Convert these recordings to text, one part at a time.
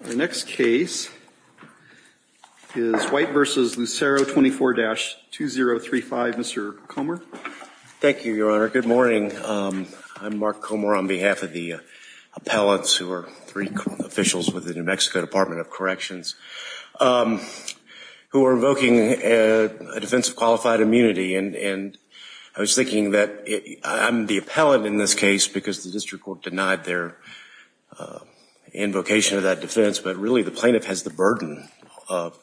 The next case is White v. Lucero, 24-2035. Mr. Comer. Thank you, Your Honor. Good morning. I'm Mark Comer on behalf of the appellants, who are three officials with the New Mexico Department of Corrections, who are invoking a defense of qualified immunity. And I was thinking that I'm the appellant in this case because the district court denied their invocation of that defense, but really the plaintiff has the burden of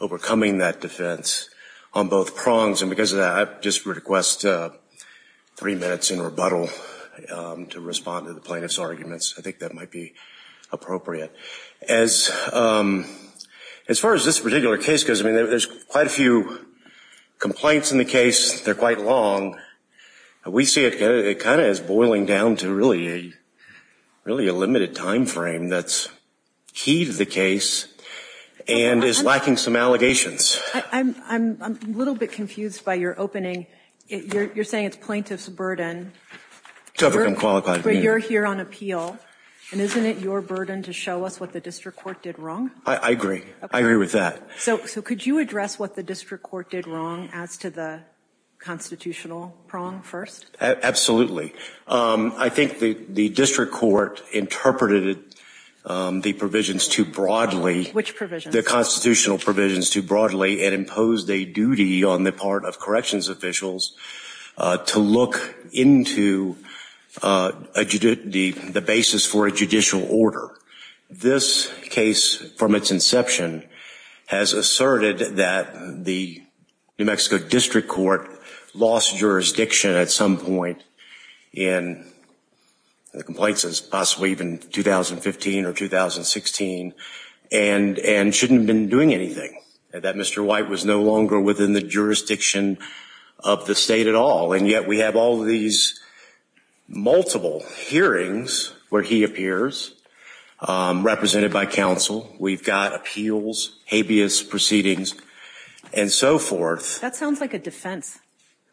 overcoming that defense on both prongs. And because of that, I just request three minutes in rebuttal to respond to the plaintiff's arguments. I think that might be appropriate. As far as this particular case goes, I mean, there's quite a few complaints in the case. They're quite long. We see it kind of as boiling down to really a limited time frame that's key to the case and is lacking some allegations. I'm a little bit confused by your opening. You're saying it's plaintiff's burden to overcome qualified immunity. But you're here on appeal. And isn't it your burden to show us what the district court did wrong? I agree. I agree with that. So could you address what the district court did wrong as to the constitutional prong first? Absolutely. I think the district court interpreted the provisions too broadly. Which provisions? It interpreted the constitutional provisions too broadly and imposed a duty on the part of corrections officials to look into the basis for a judicial order. This case from its inception has asserted that the New Mexico district court lost jurisdiction at some point in the complaints, possibly even 2015 or 2016, and shouldn't have been doing anything. That Mr. White was no longer within the jurisdiction of the state at all. And yet we have all of these multiple hearings where he appears, represented by counsel. We've got appeals, habeas proceedings, and so forth. That sounds like a defense.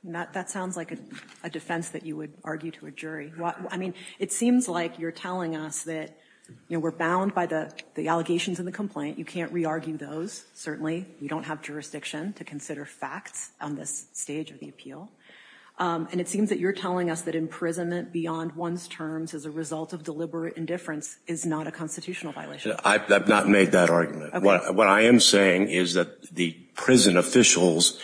That sounds like a defense that you would argue to a jury. I mean, it seems like you're telling us that we're bound by the allegations in the complaint. You can't re-argue those, certainly. We don't have jurisdiction to consider facts on this stage of the appeal. And it seems that you're telling us that imprisonment beyond one's terms as a result of deliberate indifference is not a constitutional violation. I've not made that argument. What I am saying is that the prison officials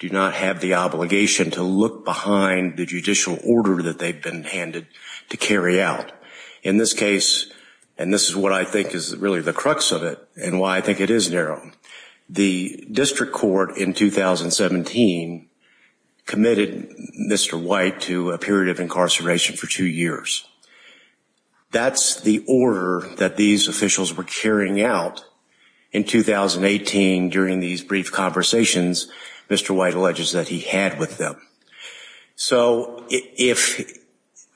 do not have the obligation to look behind the judicial order that they've been handed to carry out. In this case, and this is what I think is really the crux of it and why I think it is narrow, the district court in 2017 committed Mr. White to a period of incarceration for two years. That's the order that these officials were carrying out in 2018 during these brief conversations Mr. White alleges that he had with them. So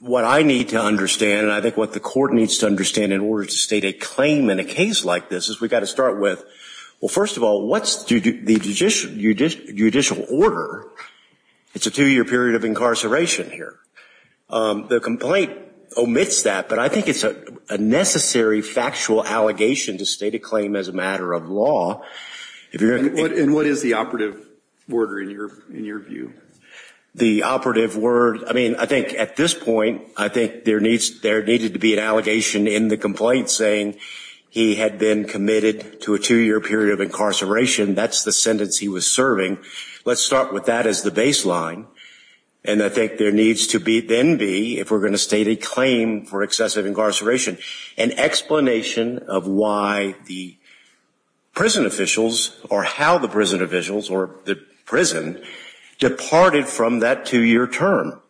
what I need to understand and I think what the court needs to understand in order to state a claim in a case like this is we've got to start with, well, first of all, what's the judicial order? It's a two-year period of incarceration here. The complaint omits that, but I think it's a necessary factual allegation to state a claim as a matter of law. And what is the operative order in your view? The operative word, I mean, I think at this point I think there needed to be an allegation in the complaint saying he had been committed to a two-year period of incarceration. That's the sentence he was serving. Let's start with that as the baseline, and I think there needs to then be, if we're going to state a claim for excessive incarceration, an explanation of why the prison officials or how the prison officials or the prison departed from that two-year term.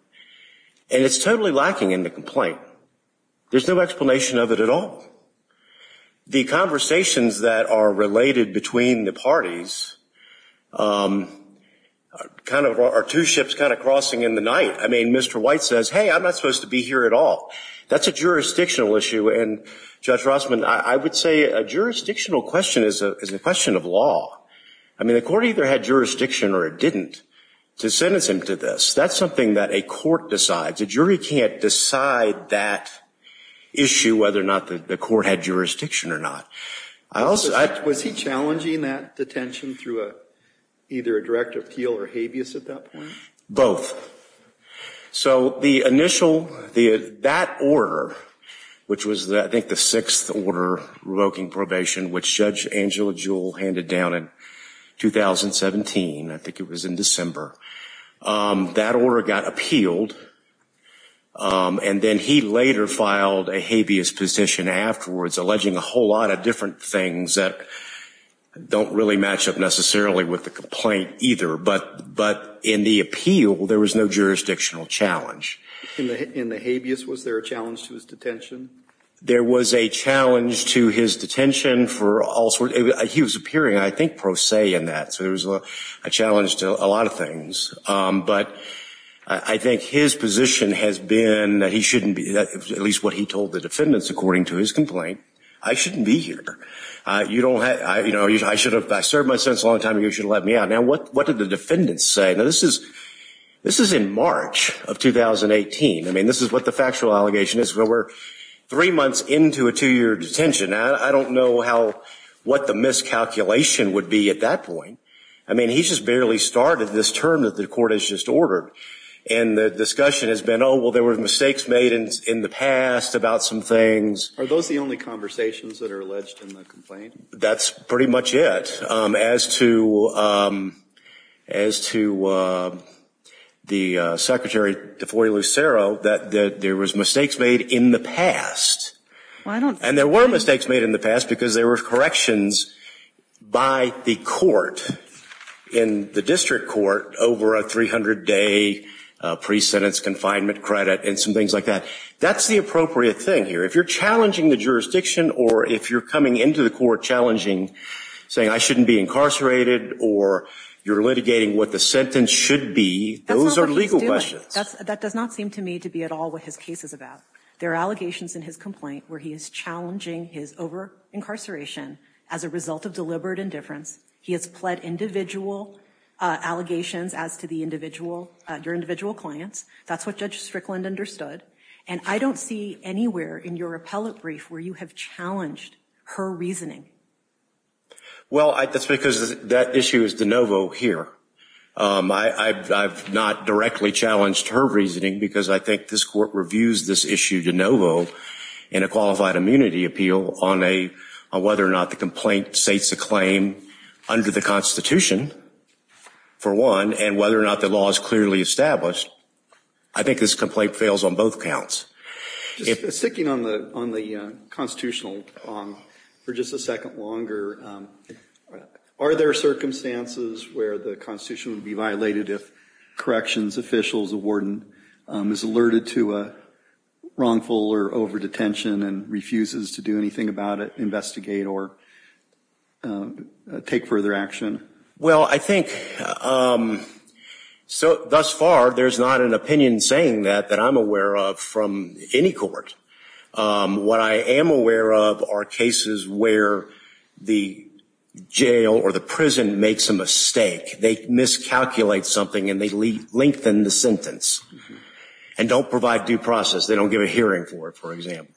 And it's totally lacking in the complaint. There's no explanation of it at all. The conversations that are related between the parties kind of are two ships kind of crossing in the night. I mean, Mr. White says, hey, I'm not supposed to be here at all. That's a jurisdictional issue, and Judge Rossman, I would say a jurisdictional question is a question of law. I mean, the court either had jurisdiction or it didn't to sentence him to this. That's something that a court decides. A jury can't decide that issue whether or not the court had jurisdiction or not. Was he challenging that detention through either a direct appeal or habeas at that point? Both. So the initial, that order, which was I think the sixth order revoking probation, which Judge Angela Jewell handed down in 2017, I think it was in December, that order got appealed, and then he later filed a habeas petition afterwards, alleging a whole lot of different things that don't really match up necessarily with the complaint either. But in the appeal, there was no jurisdictional challenge. In the habeas, was there a challenge to his detention? There was a challenge to his detention for all sorts. He was appearing, I think, pro se in that. So there was a challenge to a lot of things. But I think his position has been that he shouldn't be, at least what he told the defendants according to his complaint, I shouldn't be here. I should have served my sentence a long time ago. You should have let me out. Now, what did the defendants say? Now, this is in March of 2018. I mean, this is what the factual allegation is. We're three months into a two-year detention. I don't know what the miscalculation would be at that point. I mean, he's just barely started this term that the court has just ordered. And the discussion has been, oh, well, there were mistakes made in the past about some things. Are those the only conversations that are alleged in the complaint? That's pretty much it as to the Secretary DeFoy Lucero, that there was mistakes made in the past. And there were mistakes made in the past because there were corrections by the court in the district court over a 300-day pre-sentence confinement credit and some things like that. That's the appropriate thing here. If you're challenging the jurisdiction, or if you're coming into the court challenging, saying I shouldn't be incarcerated, or you're litigating what the sentence should be, those are legal questions. That's not what he's doing. That does not seem to me to be at all what his case is about. There are allegations in his complaint where he is challenging his over-incarceration as a result of deliberate indifference. He has pled individual allegations as to your individual clients. That's what Judge Strickland understood. And I don't see anywhere in your appellate brief where you have challenged her reasoning. Well, that's because that issue is de novo here. I've not directly challenged her reasoning because I think this court reviews this issue de novo in a qualified immunity appeal on whether or not the complaint states a claim under the Constitution, for one, and whether or not the law is clearly established. I think this complaint fails on both counts. Sticking on the constitutional for just a second longer, are there circumstances where the Constitution would be violated if corrections officials, a warden, is alerted to a wrongful or overdetention and refuses to do anything about it, investigate, or take further action? Well, I think thus far there's not an opinion saying that that I'm aware of from any court. What I am aware of are cases where the jail or the prison makes a mistake. They miscalculate something and they lengthen the sentence and don't provide due process. They don't give a hearing for it, for example.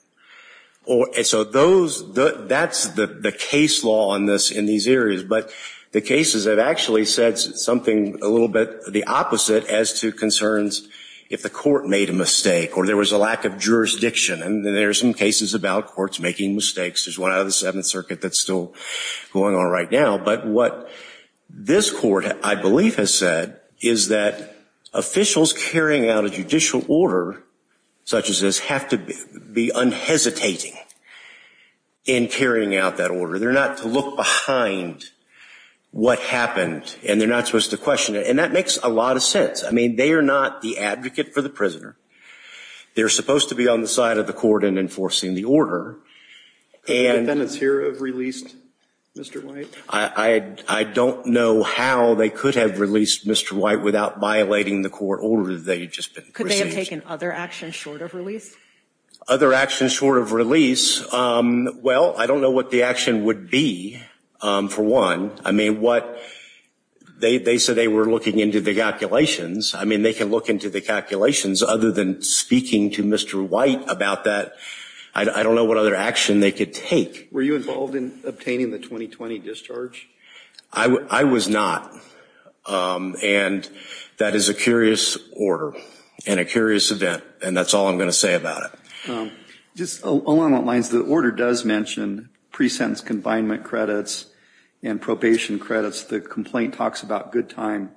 So that's the case law in these areas. But the cases have actually said something a little bit the opposite as to concerns if the court made a mistake or there was a lack of jurisdiction. And there are some cases about courts making mistakes. There's one out of the Seventh Circuit that's still going on right now. But what this court, I believe, has said is that officials carrying out a judicial order such as this have to be unhesitating in carrying out that order. They're not to look behind what happened, and they're not supposed to question it. And that makes a lot of sense. I mean, they are not the advocate for the prisoner. They're supposed to be on the side of the court in enforcing the order. Could the defendants here have released Mr. White? I don't know how they could have released Mr. White without violating the court order that they had just received. Could they have taken other actions short of release? Other actions short of release? Well, I don't know what the action would be, for one. I mean, they said they were looking into the calculations. I mean, they can look into the calculations. Other than speaking to Mr. White about that, I don't know what other action they could take. Were you involved in obtaining the 2020 discharge? I was not. And that is a curious order and a curious event, and that's all I'm going to say about it. Just along those lines, the order does mention pre-sentence confinement credits and probation credits. The complaint talks about good time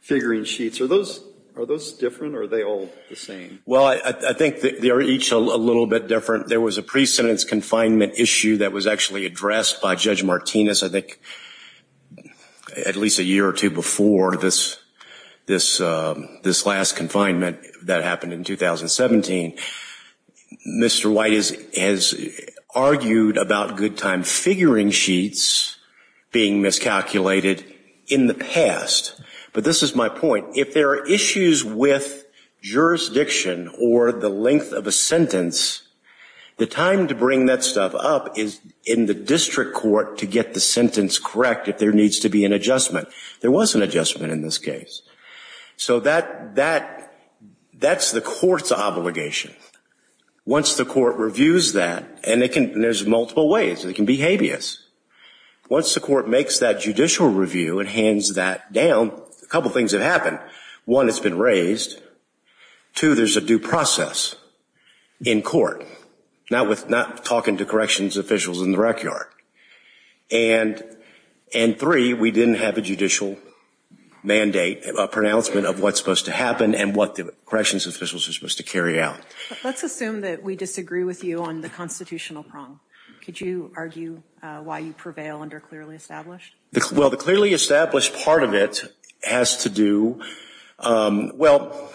figuring sheets. Are those different, or are they all the same? Well, I think they are each a little bit different. There was a pre-sentence confinement issue that was actually addressed by Judge Martinez, I think, at least a year or two before this last confinement that happened in 2017. Mr. White has argued about good time figuring sheets being miscalculated in the past. But this is my point. If there are issues with jurisdiction or the length of a sentence, the time to bring that stuff up is in the district court to get the sentence correct if there needs to be an adjustment. There was an adjustment in this case. So that's the court's obligation. Once the court reviews that, and there's multiple ways. It can be habeas. Once the court makes that judicial review and hands that down, a couple things have happened. One, it's been raised. Two, there's a due process in court, not talking to corrections officials in the rec yard. And three, we didn't have a judicial mandate, a pronouncement of what's supposed to happen and what the corrections officials are supposed to carry out. Let's assume that we disagree with you on the constitutional prong. Could you argue why you prevail under clearly established? Well, the clearly established part of it has to do with, well,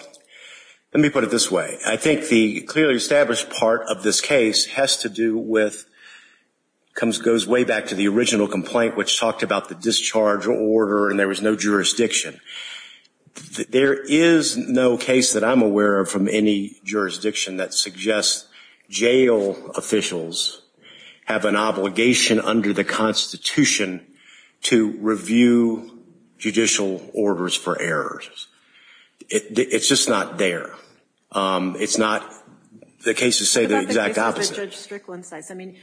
let me put it this way. I think the clearly established part of this case has to do with, goes way back to the original complaint which talked about the discharge order and there was no jurisdiction. There is no case that I'm aware of from any jurisdiction that suggests jail officials have an obligation under the Constitution to review judicial orders for errors. It's just not there. It's not, the cases say the exact opposite. I mean,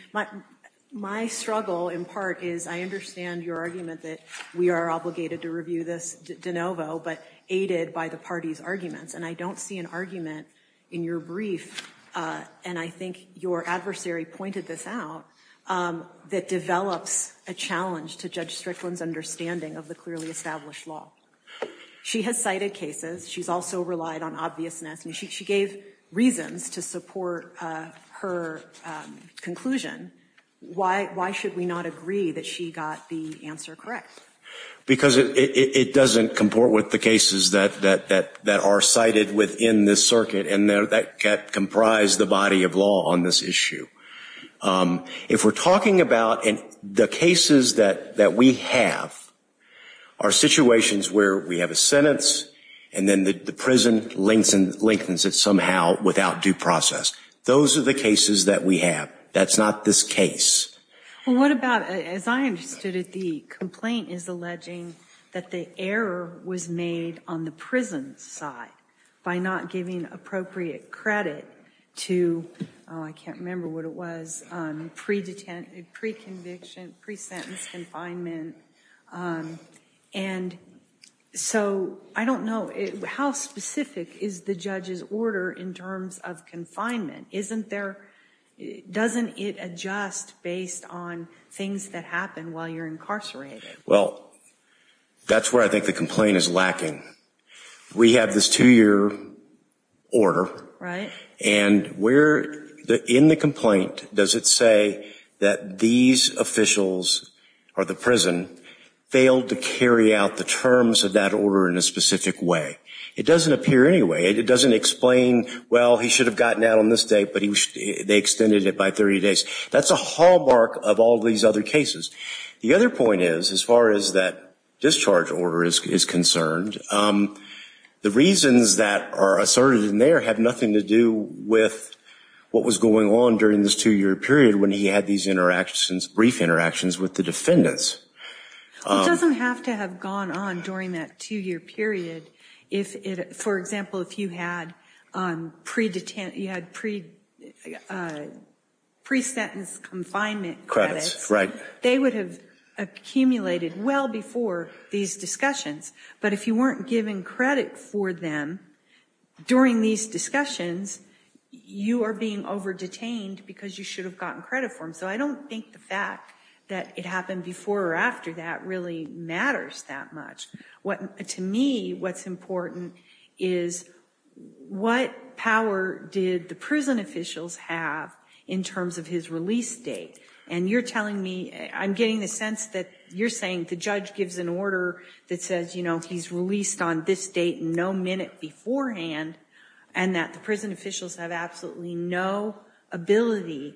my struggle in part is I understand your argument that we are obligated to review this de novo, but aided by the party's arguments. And I don't see an argument in your brief, and I think your adversary pointed this out, that develops a challenge to Judge Strickland's understanding of the clearly established law. She has cited cases. She's also relied on obviousness. She gave reasons to support her conclusion. Why should we not agree that she got the answer correct? Because it doesn't comport with the cases that are cited within this circuit and that comprise the body of law on this issue. If we're talking about the cases that we have are situations where we have a sentence and then the prison lengthens it somehow without due process. Those are the cases that we have. That's not this case. Well, what about, as I understood it, the complaint is alleging that the error was made on the prison side by not giving appropriate credit to, I can't remember what it was, pre-detention, pre-conviction, pre-sentence confinement. And so I don't know. How specific is the judge's order in terms of confinement? Doesn't it adjust based on things that happen while you're incarcerated? Well, that's where I think the complaint is lacking. We have this two-year order. Right. And in the complaint, does it say that these officials or the prison failed to carry out the terms of that order in a specific way? It doesn't appear any way. It doesn't explain, well, he should have gotten out on this date, but they extended it by 30 days. That's a hallmark of all these other cases. The other point is, as far as that discharge order is concerned, the reasons that are asserted in there have nothing to do with what was going on during this two-year period when he had these brief interactions with the defendants. It doesn't have to have gone on during that two-year period. For example, if you had pre-sentence confinement credits, they would have accumulated well before these discussions. But if you weren't giving credit for them during these discussions, you are being over-detained because you should have gotten credit for them. So I don't think the fact that it happened before or after that really matters that much. To me, what's important is what power did the prison officials have in terms of his release date? And you're telling me, I'm getting the sense that you're saying the judge gives an order that says, you know, he's released on this date no minute beforehand, and that the prison officials have absolutely no ability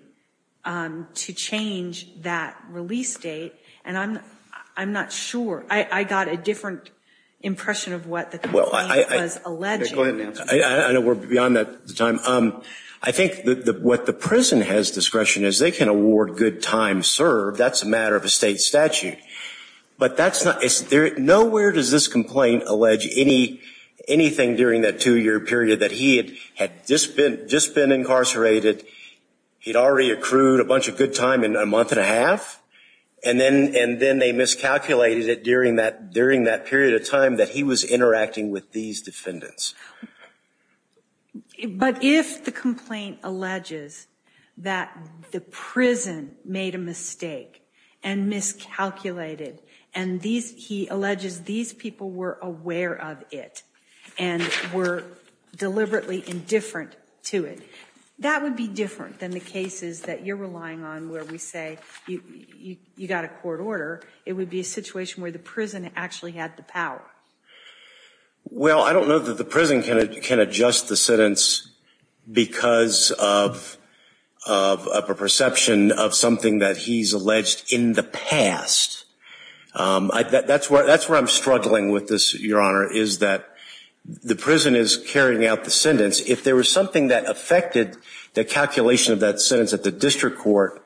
to change that release date. And I'm not sure. I got a different impression of what the complaint was alleging. Go ahead, Nancy. I know we're beyond the time. I think what the prison has discretion is they can award good time served. That's a matter of a state statute. But nowhere does this complaint allege anything during that two-year period that he had just been incarcerated, he'd already accrued a bunch of good time in a month and a half, and then they miscalculated it during that period of time that he was interacting with these defendants. But if the complaint alleges that the prison made a mistake and miscalculated, and he alleges these people were aware of it and were deliberately indifferent to it, that would be different than the cases that you're relying on where we say you got a court order. It would be a situation where the prison actually had the power. Well, I don't know that the prison can adjust the sentence because of a perception of something that he's alleged in the past. That's where I'm struggling with this, Your Honor, is that the prison is carrying out the sentence. If there was something that affected the calculation of that sentence at the district court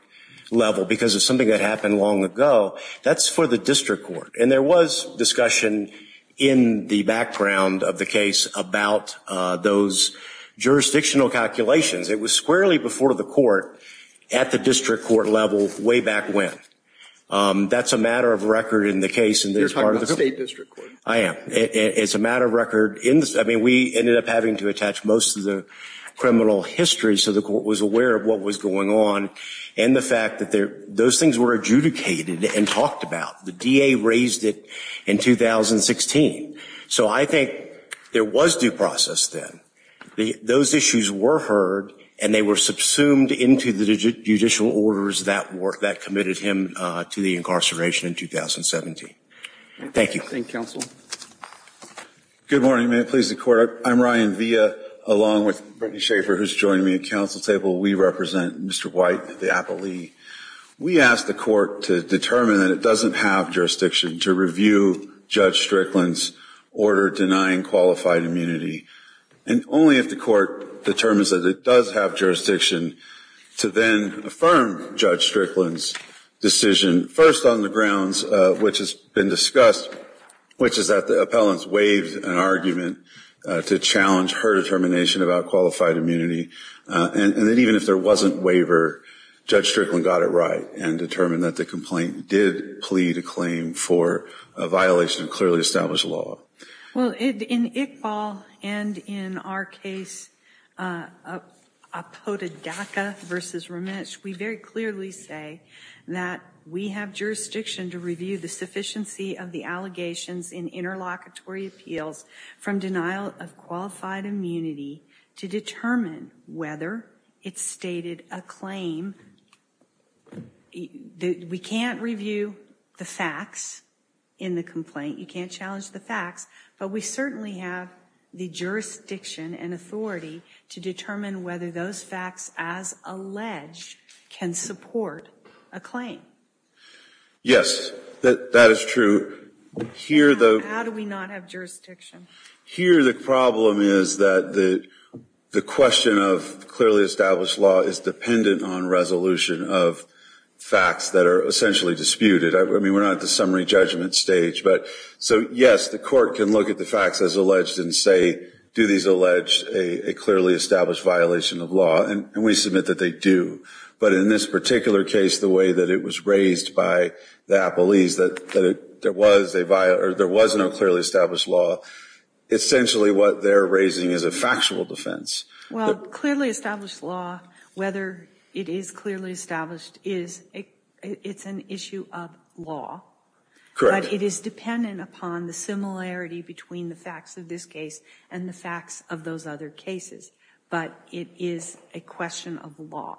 level, because it's something that happened long ago, that's for the district court. And there was discussion in the background of the case about those jurisdictional calculations. It was squarely before the court at the district court level way back when. That's a matter of record in the case. You're talking about state district court. I am. It's a matter of record. I mean, we ended up having to attach most of the criminal history so the court was aware of what was going on, and the fact that those things were adjudicated and talked about. The DA raised it in 2016. So I think there was due process then. Those issues were heard, and they were subsumed into the judicial orders that committed him to the incarceration in 2017. Thank you. Thank you, counsel. Good morning. May it please the Court. I'm Ryan Villa, along with Brittany Schaefer, who's joining me at council table. We represent Mr. White, the appleee. We asked the court to determine that it doesn't have jurisdiction to review Judge Strickland's order denying qualified immunity, and only if the court determines that it does have jurisdiction to then affirm Judge Strickland's decision, first on the grounds which has been discussed, which is that the appellant's waived an argument to challenge her determination about qualified immunity, and that even if there wasn't waiver, Judge Strickland got it right and determined that the complaint did plead a claim for a violation of clearly established law. Well, in Iqbal and in our case, Apota Dhaka v. Ramesh, we very clearly say that we have jurisdiction to review the sufficiency of the allegations in interlocutory appeals from denial of qualified immunity to determine whether it stated a claim. We can't review the facts in the complaint. You can't challenge the facts. But we certainly have the jurisdiction and authority to determine whether those facts, as alleged, can support a claim. Yes, that is true. How do we not have jurisdiction? Here the problem is that the question of clearly established law is dependent on resolution of facts that are essentially disputed. I mean, we're not at the summary judgment stage. So, yes, the court can look at the facts as alleged and say, do these allege a clearly established violation of law? And we submit that they do. But in this particular case, the way that it was raised by the appellees that there was no clearly established law, essentially what they're raising is a factual defense. Well, clearly established law, whether it is clearly established, it's an issue of law. Correct. But it is dependent upon the similarity between the facts of this case and the facts of those other cases. But it is a question of law.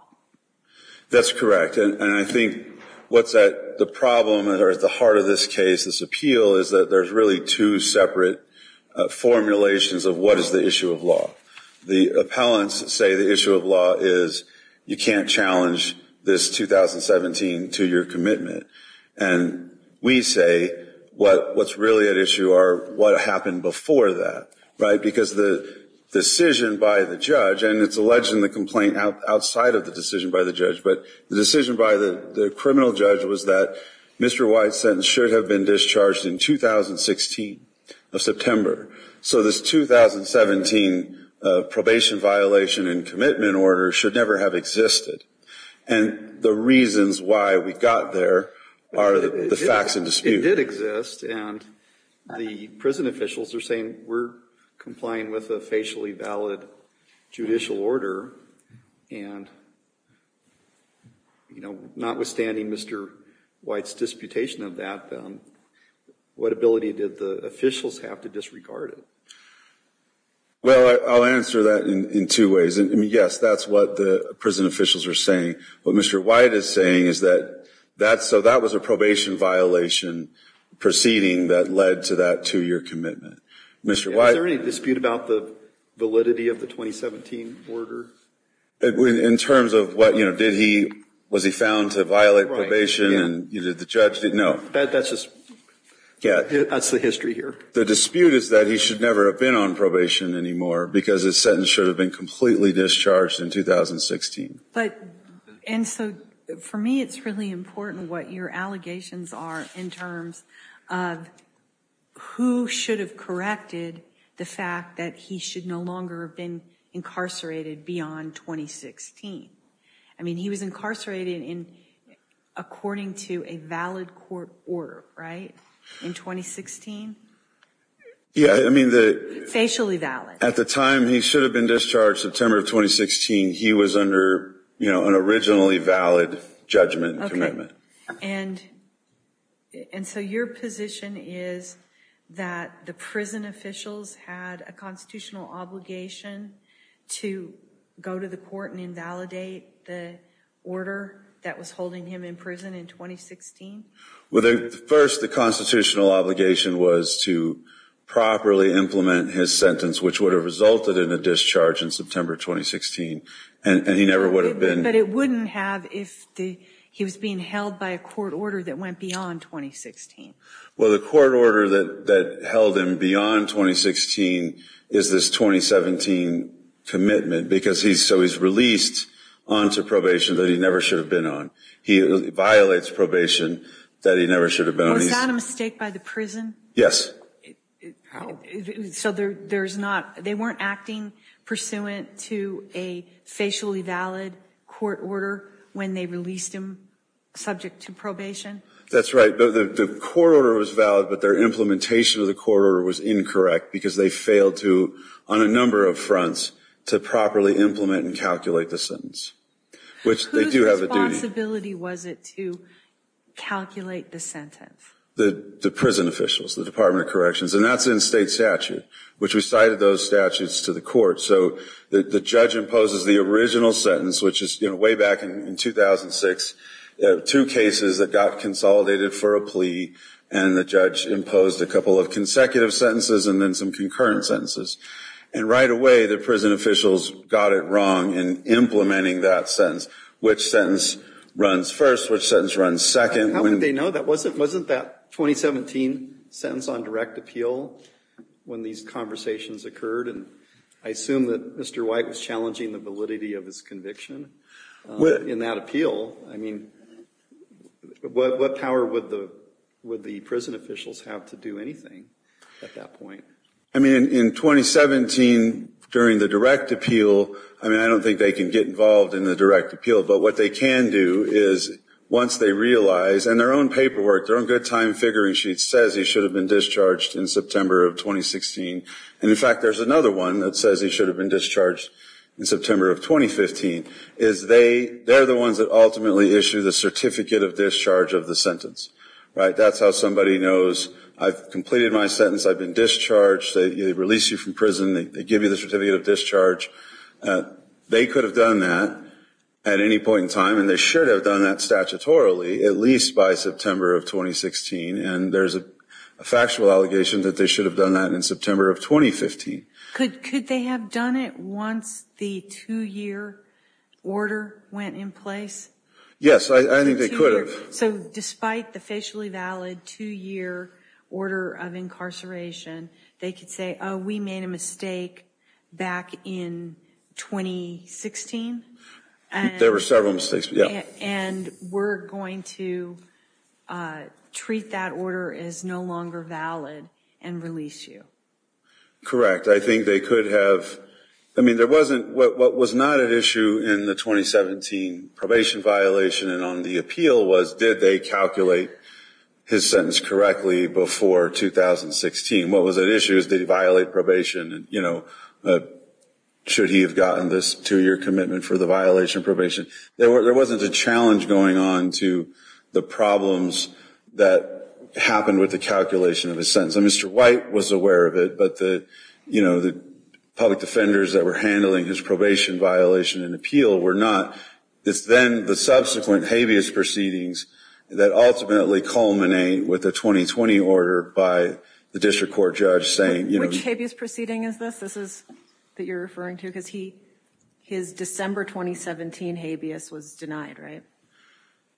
That's correct. And I think what's at the problem or at the heart of this case, this appeal, is that there's really two separate formulations of what is the issue of law. The appellants say the issue of law is you can't challenge this 2017 two-year commitment. And we say what's really at issue are what happened before that. Right? Because the decision by the judge, and it's alleged in the complaint outside of the decision by the judge, but the decision by the criminal judge was that Mr. White's sentence should have been discharged in 2016 of September. So this 2017 probation violation and commitment order should never have existed. And the reasons why we got there are the facts in dispute. Well, they did exist, and the prison officials are saying we're complying with a facially valid judicial order. And notwithstanding Mr. White's disputation of that, what ability did the officials have to disregard it? Well, I'll answer that in two ways. Yes, that's what the prison officials are saying. What Mr. White is saying is that so that was a probation violation proceeding that led to that two-year commitment. Is there any dispute about the validity of the 2017 order? In terms of what, you know, did he, was he found to violate probation and did the judge, no. That's just, that's the history here. The dispute is that he should never have been on probation anymore because his sentence should have been completely discharged in 2016. But, and so for me it's really important what your allegations are in terms of who should have corrected the fact that he should no longer have been incarcerated beyond 2016. I mean, he was incarcerated in, according to a valid court order, right, in 2016? Yeah, I mean the... Facially valid. At the time he should have been discharged, September of 2016, he was under, you know, an originally valid judgment and commitment. Okay, and so your position is that the prison officials had a constitutional obligation to go to the court and invalidate the order that was holding him in prison in 2016? Well, first the constitutional obligation was to properly implement his sentence, which would have resulted in a discharge in September 2016, and he never would have been... But it wouldn't have if he was being held by a court order that went beyond 2016. Well, the court order that held him beyond 2016 is this 2017 commitment because he's, so he's released onto probation that he never should have been on. He violates probation that he never should have been on. Was that a mistake by the prison? Yes. How? So there's not, they weren't acting pursuant to a facially valid court order when they released him subject to probation? That's right, the court order was valid, but their implementation of the court order was incorrect because they failed to, on a number of fronts, to properly implement and calculate the sentence. Whose responsibility was it to calculate the sentence? The prison officials, the Department of Corrections, and that's in state statute, which we cited those statutes to the court. So the judge imposes the original sentence, which is, you know, way back in 2006, two cases that got consolidated for a plea, and the judge imposed a couple of consecutive sentences and then some concurrent sentences. And right away the prison officials got it wrong in implementing that sentence. Which sentence runs first? Which sentence runs second? How would they know? That wasn't, wasn't that 2017 sentence on direct appeal when these conversations occurred? And I assume that Mr. White was challenging the validity of his conviction in that appeal. I mean, what power would the, would the prison officials have to do anything at that point? I mean, in 2017, during the direct appeal, I mean, I don't think they can get involved in the direct appeal. But what they can do is, once they realize, and their own paperwork, their own good time figuring sheet says he should have been discharged in September of 2016. And, in fact, there's another one that says he should have been discharged in September of 2015, is they, they're the ones that ultimately issue the certificate of discharge of the sentence. Right? That's how somebody knows I've completed my sentence, I've been discharged, they release you from prison, they give you the certificate of discharge. They could have done that at any point in time, and they should have done that statutorily, at least by September of 2016. And there's a factual allegation that they should have done that in September of 2015. Could they have done it once the two-year order went in place? Yes, I think they could have. So, despite the facially valid two-year order of incarceration, they could say, oh, we made a mistake back in 2016? There were several mistakes, yeah. And we're going to treat that order as no longer valid and release you? Correct. I think they could have. I mean, there wasn't, what was not at issue in the 2017 probation violation and on the appeal was, did they calculate his sentence correctly before 2016? What was at issue is, did he violate probation? And, you know, should he have gotten this two-year commitment for the violation of probation? There wasn't a challenge going on to the problems that happened with the calculation of his sentence. And Mr. White was aware of it, but the, you know, the public defenders that were handling his probation violation and appeal were not. It's then the subsequent habeas proceedings that ultimately culminate with a 2020 order by the district court judge saying, you know. Which habeas proceeding is this? This is that you're referring to because his December 2017 habeas was denied, right?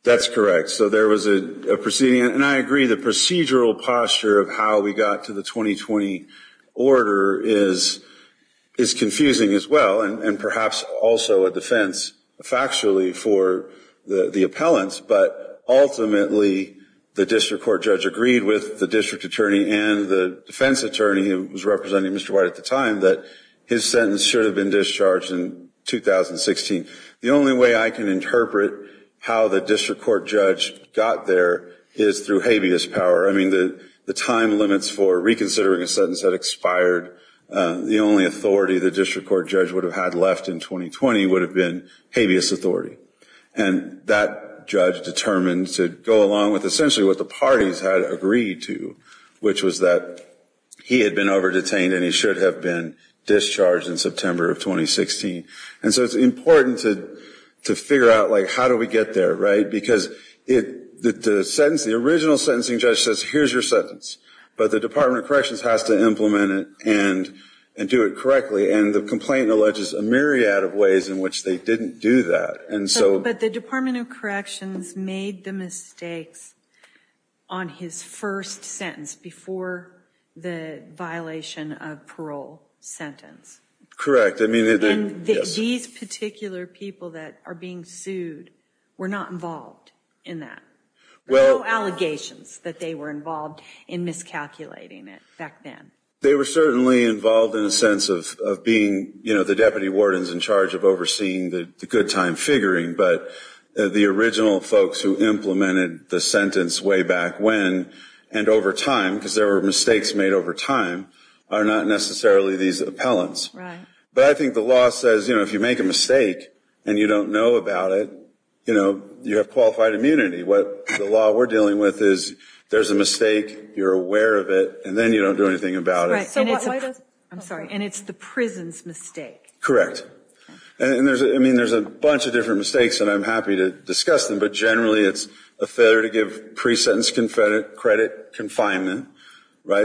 That's correct. So there was a proceeding. And I agree the procedural posture of how we got to the 2020 order is confusing as well. And perhaps also a defense factually for the appellants. But ultimately the district court judge agreed with the district attorney and the defense attorney who was representing Mr. White at the time that his sentence should have been discharged in 2016. The only way I can interpret how the district court judge got there is through habeas power. I mean, the time limits for reconsidering a sentence that expired, the only authority the district court judge would have had left in 2020 would have been habeas authority. And that judge determined to go along with essentially what the parties had agreed to. Which was that he had been over-detained and he should have been discharged in September of 2016. And so it's important to figure out how do we get there, right? Because the original sentencing judge says, here's your sentence. But the Department of Corrections has to implement it and do it correctly. And the complaint alleges a myriad of ways in which they didn't do that. But the Department of Corrections made the mistakes on his first sentence before the violation of parole sentence. Correct. And these particular people that are being sued were not involved in that. No allegations that they were involved in miscalculating it back then. They were certainly involved in a sense of being the deputy wardens in charge of overseeing the good time figuring. But the original folks who implemented the sentence way back when and over time, because there were mistakes made over time, are not necessarily these appellants. But I think the law says if you make a mistake and you don't know about it, you have qualified immunity. What the law we're dealing with is there's a mistake, you're aware of it, and then you don't do anything about it. And it's the prison's mistake. Correct. And there's a bunch of different mistakes and I'm happy to discuss them. But generally it's a failure to give pre-sentence credit confinement.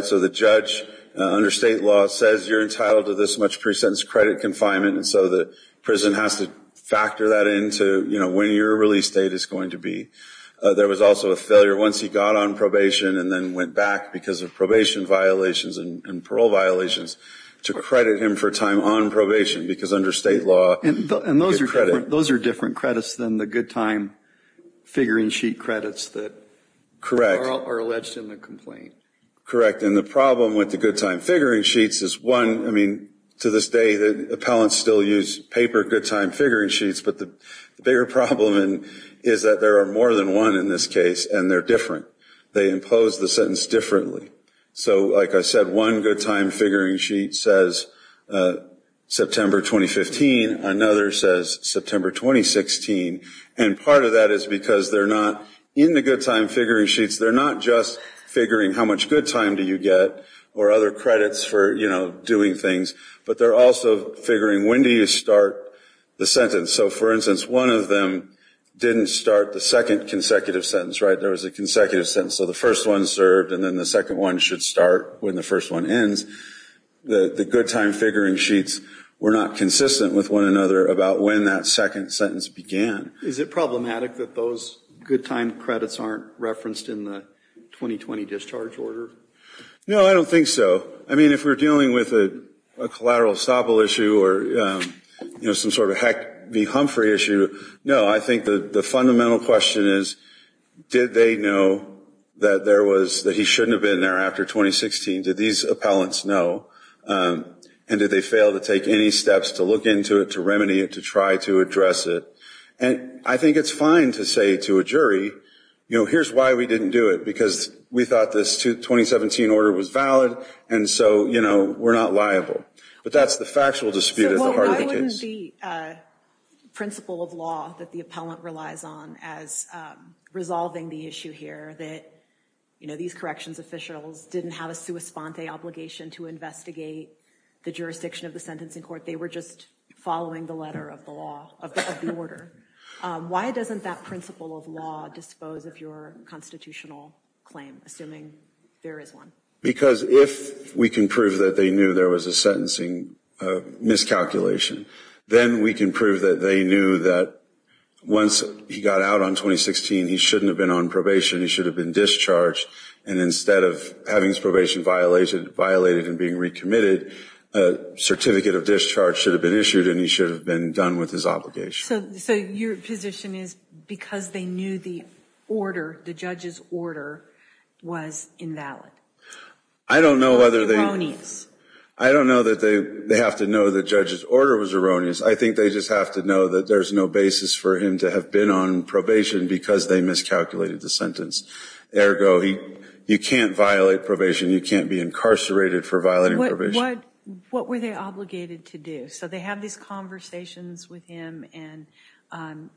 So the judge under state law says you're entitled to this much pre-sentence credit confinement and so the prison has to factor that into when your release date is going to be. There was also a failure once he got on probation and then went back because of probation violations and parole violations to credit him for time on probation because under state law you get credit. And those are different credits than the good time figuring sheet credits that are alleged in the complaint. And the problem with the good time figuring sheets is one, I mean, to this day appellants still use paper good time figuring sheets, but the bigger problem is that there are more than one in this case and they're different. They impose the sentence differently. So like I said, one good time figuring sheet says September 2015. Another says September 2016. And part of that is because they're not in the good time figuring sheets. They're not just figuring how much good time do you get or other credits for, you know, doing things, but they're also figuring when do you start the sentence. So, for instance, one of them didn't start the second consecutive sentence, right? There was a consecutive sentence. So the first one served and then the second one should start when the first one ends. The good time figuring sheets were not consistent with one another about when that second sentence began. Is it problematic that those good time credits aren't referenced in the 2020 discharge order? No, I don't think so. I mean, if we're dealing with a collateral estoppel issue or, you know, some sort of heck be Humphrey issue, no, I think the fundamental question is did they know that he shouldn't have been there after 2016? Did these appellants know? And did they fail to take any steps to look into it, to remedy it, to try to address it? And I think it's fine to say to a jury, you know, here's why we didn't do it, because we thought this 2017 order was valid and so, you know, we're not liable. But that's the factual dispute at the heart of the case. Given the principle of law that the appellant relies on as resolving the issue here that, you know, these corrections officials didn't have a sua sponte obligation to investigate the jurisdiction of the sentencing court, they were just following the letter of the law, of the order. Why doesn't that principle of law dispose of your constitutional claim, assuming there is one? Because if we can prove that they knew there was a sentencing miscalculation, then we can prove that they knew that once he got out on 2016, he shouldn't have been on probation, he should have been discharged, and instead of having his probation violated and being recommitted, a certificate of discharge should have been issued and he should have been done with his obligation. So your position is because they knew the order, the judge's order, was invalid? I don't know whether they... I don't know that they have to know the judge's order was erroneous. I think they just have to know that there's no basis for him to have been on probation because they miscalculated the sentence. Ergo, you can't violate probation, you can't be incarcerated for violating probation. What were they obligated to do? So they have these conversations with him and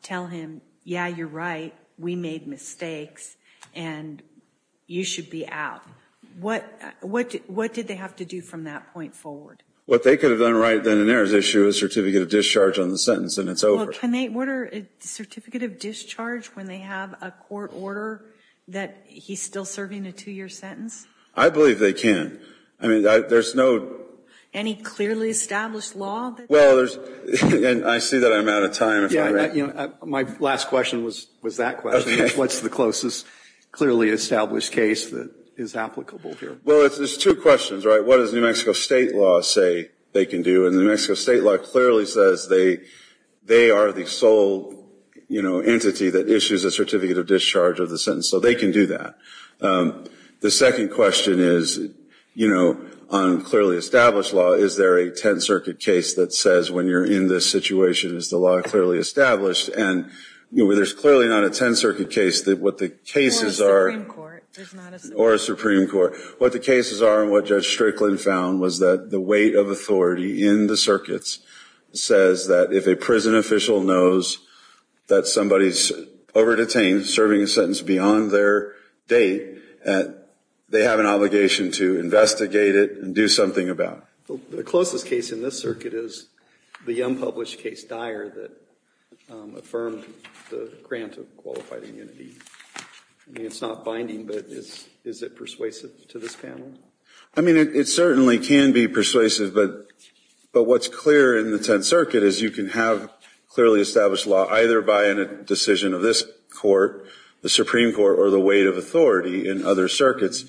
tell him, yeah, you're right, we made mistakes, and you should be out. What did they have to do from that point forward? What they could have done right then and there is issue a certificate of discharge on the sentence and it's over. Well, can they order a certificate of discharge when they have a court order that he's still serving a two-year sentence? I believe they can. I mean, there's no... Any clearly established law? Well, there's... And I see that I'm out of time. My last question was that question. What's the closest clearly established case that is applicable here? Well, there's two questions, right? What does New Mexico state law say they can do? And New Mexico state law clearly says they are the sole entity that issues a certificate of discharge of the sentence. So they can do that. The second question is, you know, on clearly established law, is there a 10th Circuit case that says when you're in this situation is the law clearly established? And there's clearly not a 10th Circuit case that what the cases are... Or a Supreme Court. Or a Supreme Court. What the cases are and what Judge Strickland found was that the weight of authority in the circuits says that if a prison official knows that somebody's over-detained, serving a sentence beyond their date, they have an obligation to investigate it and do something about it. The closest case in this circuit is the unpublished case Dyer that affirmed the grant of qualified immunity. I mean, it's not binding, but is it persuasive to this panel? I mean, it certainly can be persuasive, but what's clear in the 10th Circuit is you can have clearly established law either by a decision of this court, the Supreme Court, or the weight of authority in other circuits.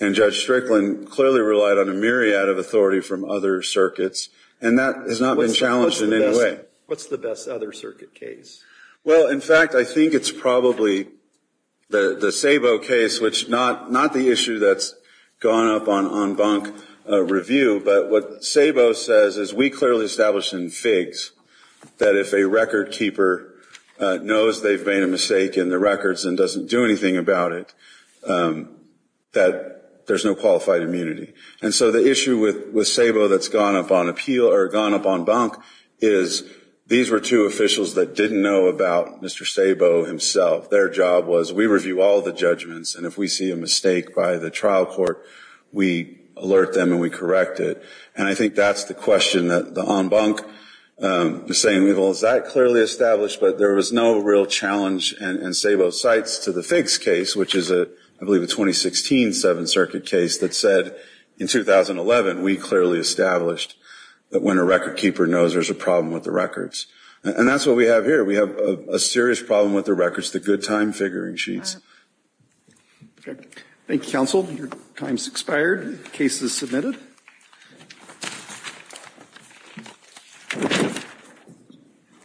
And Judge Strickland clearly relied on a myriad of authority from other circuits, and that has not been challenged in any way. What's the best other circuit case? Well, in fact, I think it's probably the Sabo case, which not the issue that's gone up on bunk review, but what Sabo says is we clearly established in FIGS that if a record keeper knows they've made a mistake in the records and doesn't do anything about it, that there's no qualified immunity. And so the issue with Sabo that's gone up on appeal or gone up on bunk is these were two officials that didn't know about Mr. Sabo himself. Their job was we review all the judgments, and if we see a mistake by the trial court, we alert them and we correct it. And I think that's the question that on bunk is saying, well, is that clearly established? But there was no real challenge in Sabo's sites to the FIGS case, which is I believe a 2016 7th Circuit case that said in 2011 we clearly established that when a record keeper knows there's a problem with the records. And that's what we have here. We have a serious problem with the records, the good time figuring sheets. Thank you, counsel. Your time's expired. Case is submitted.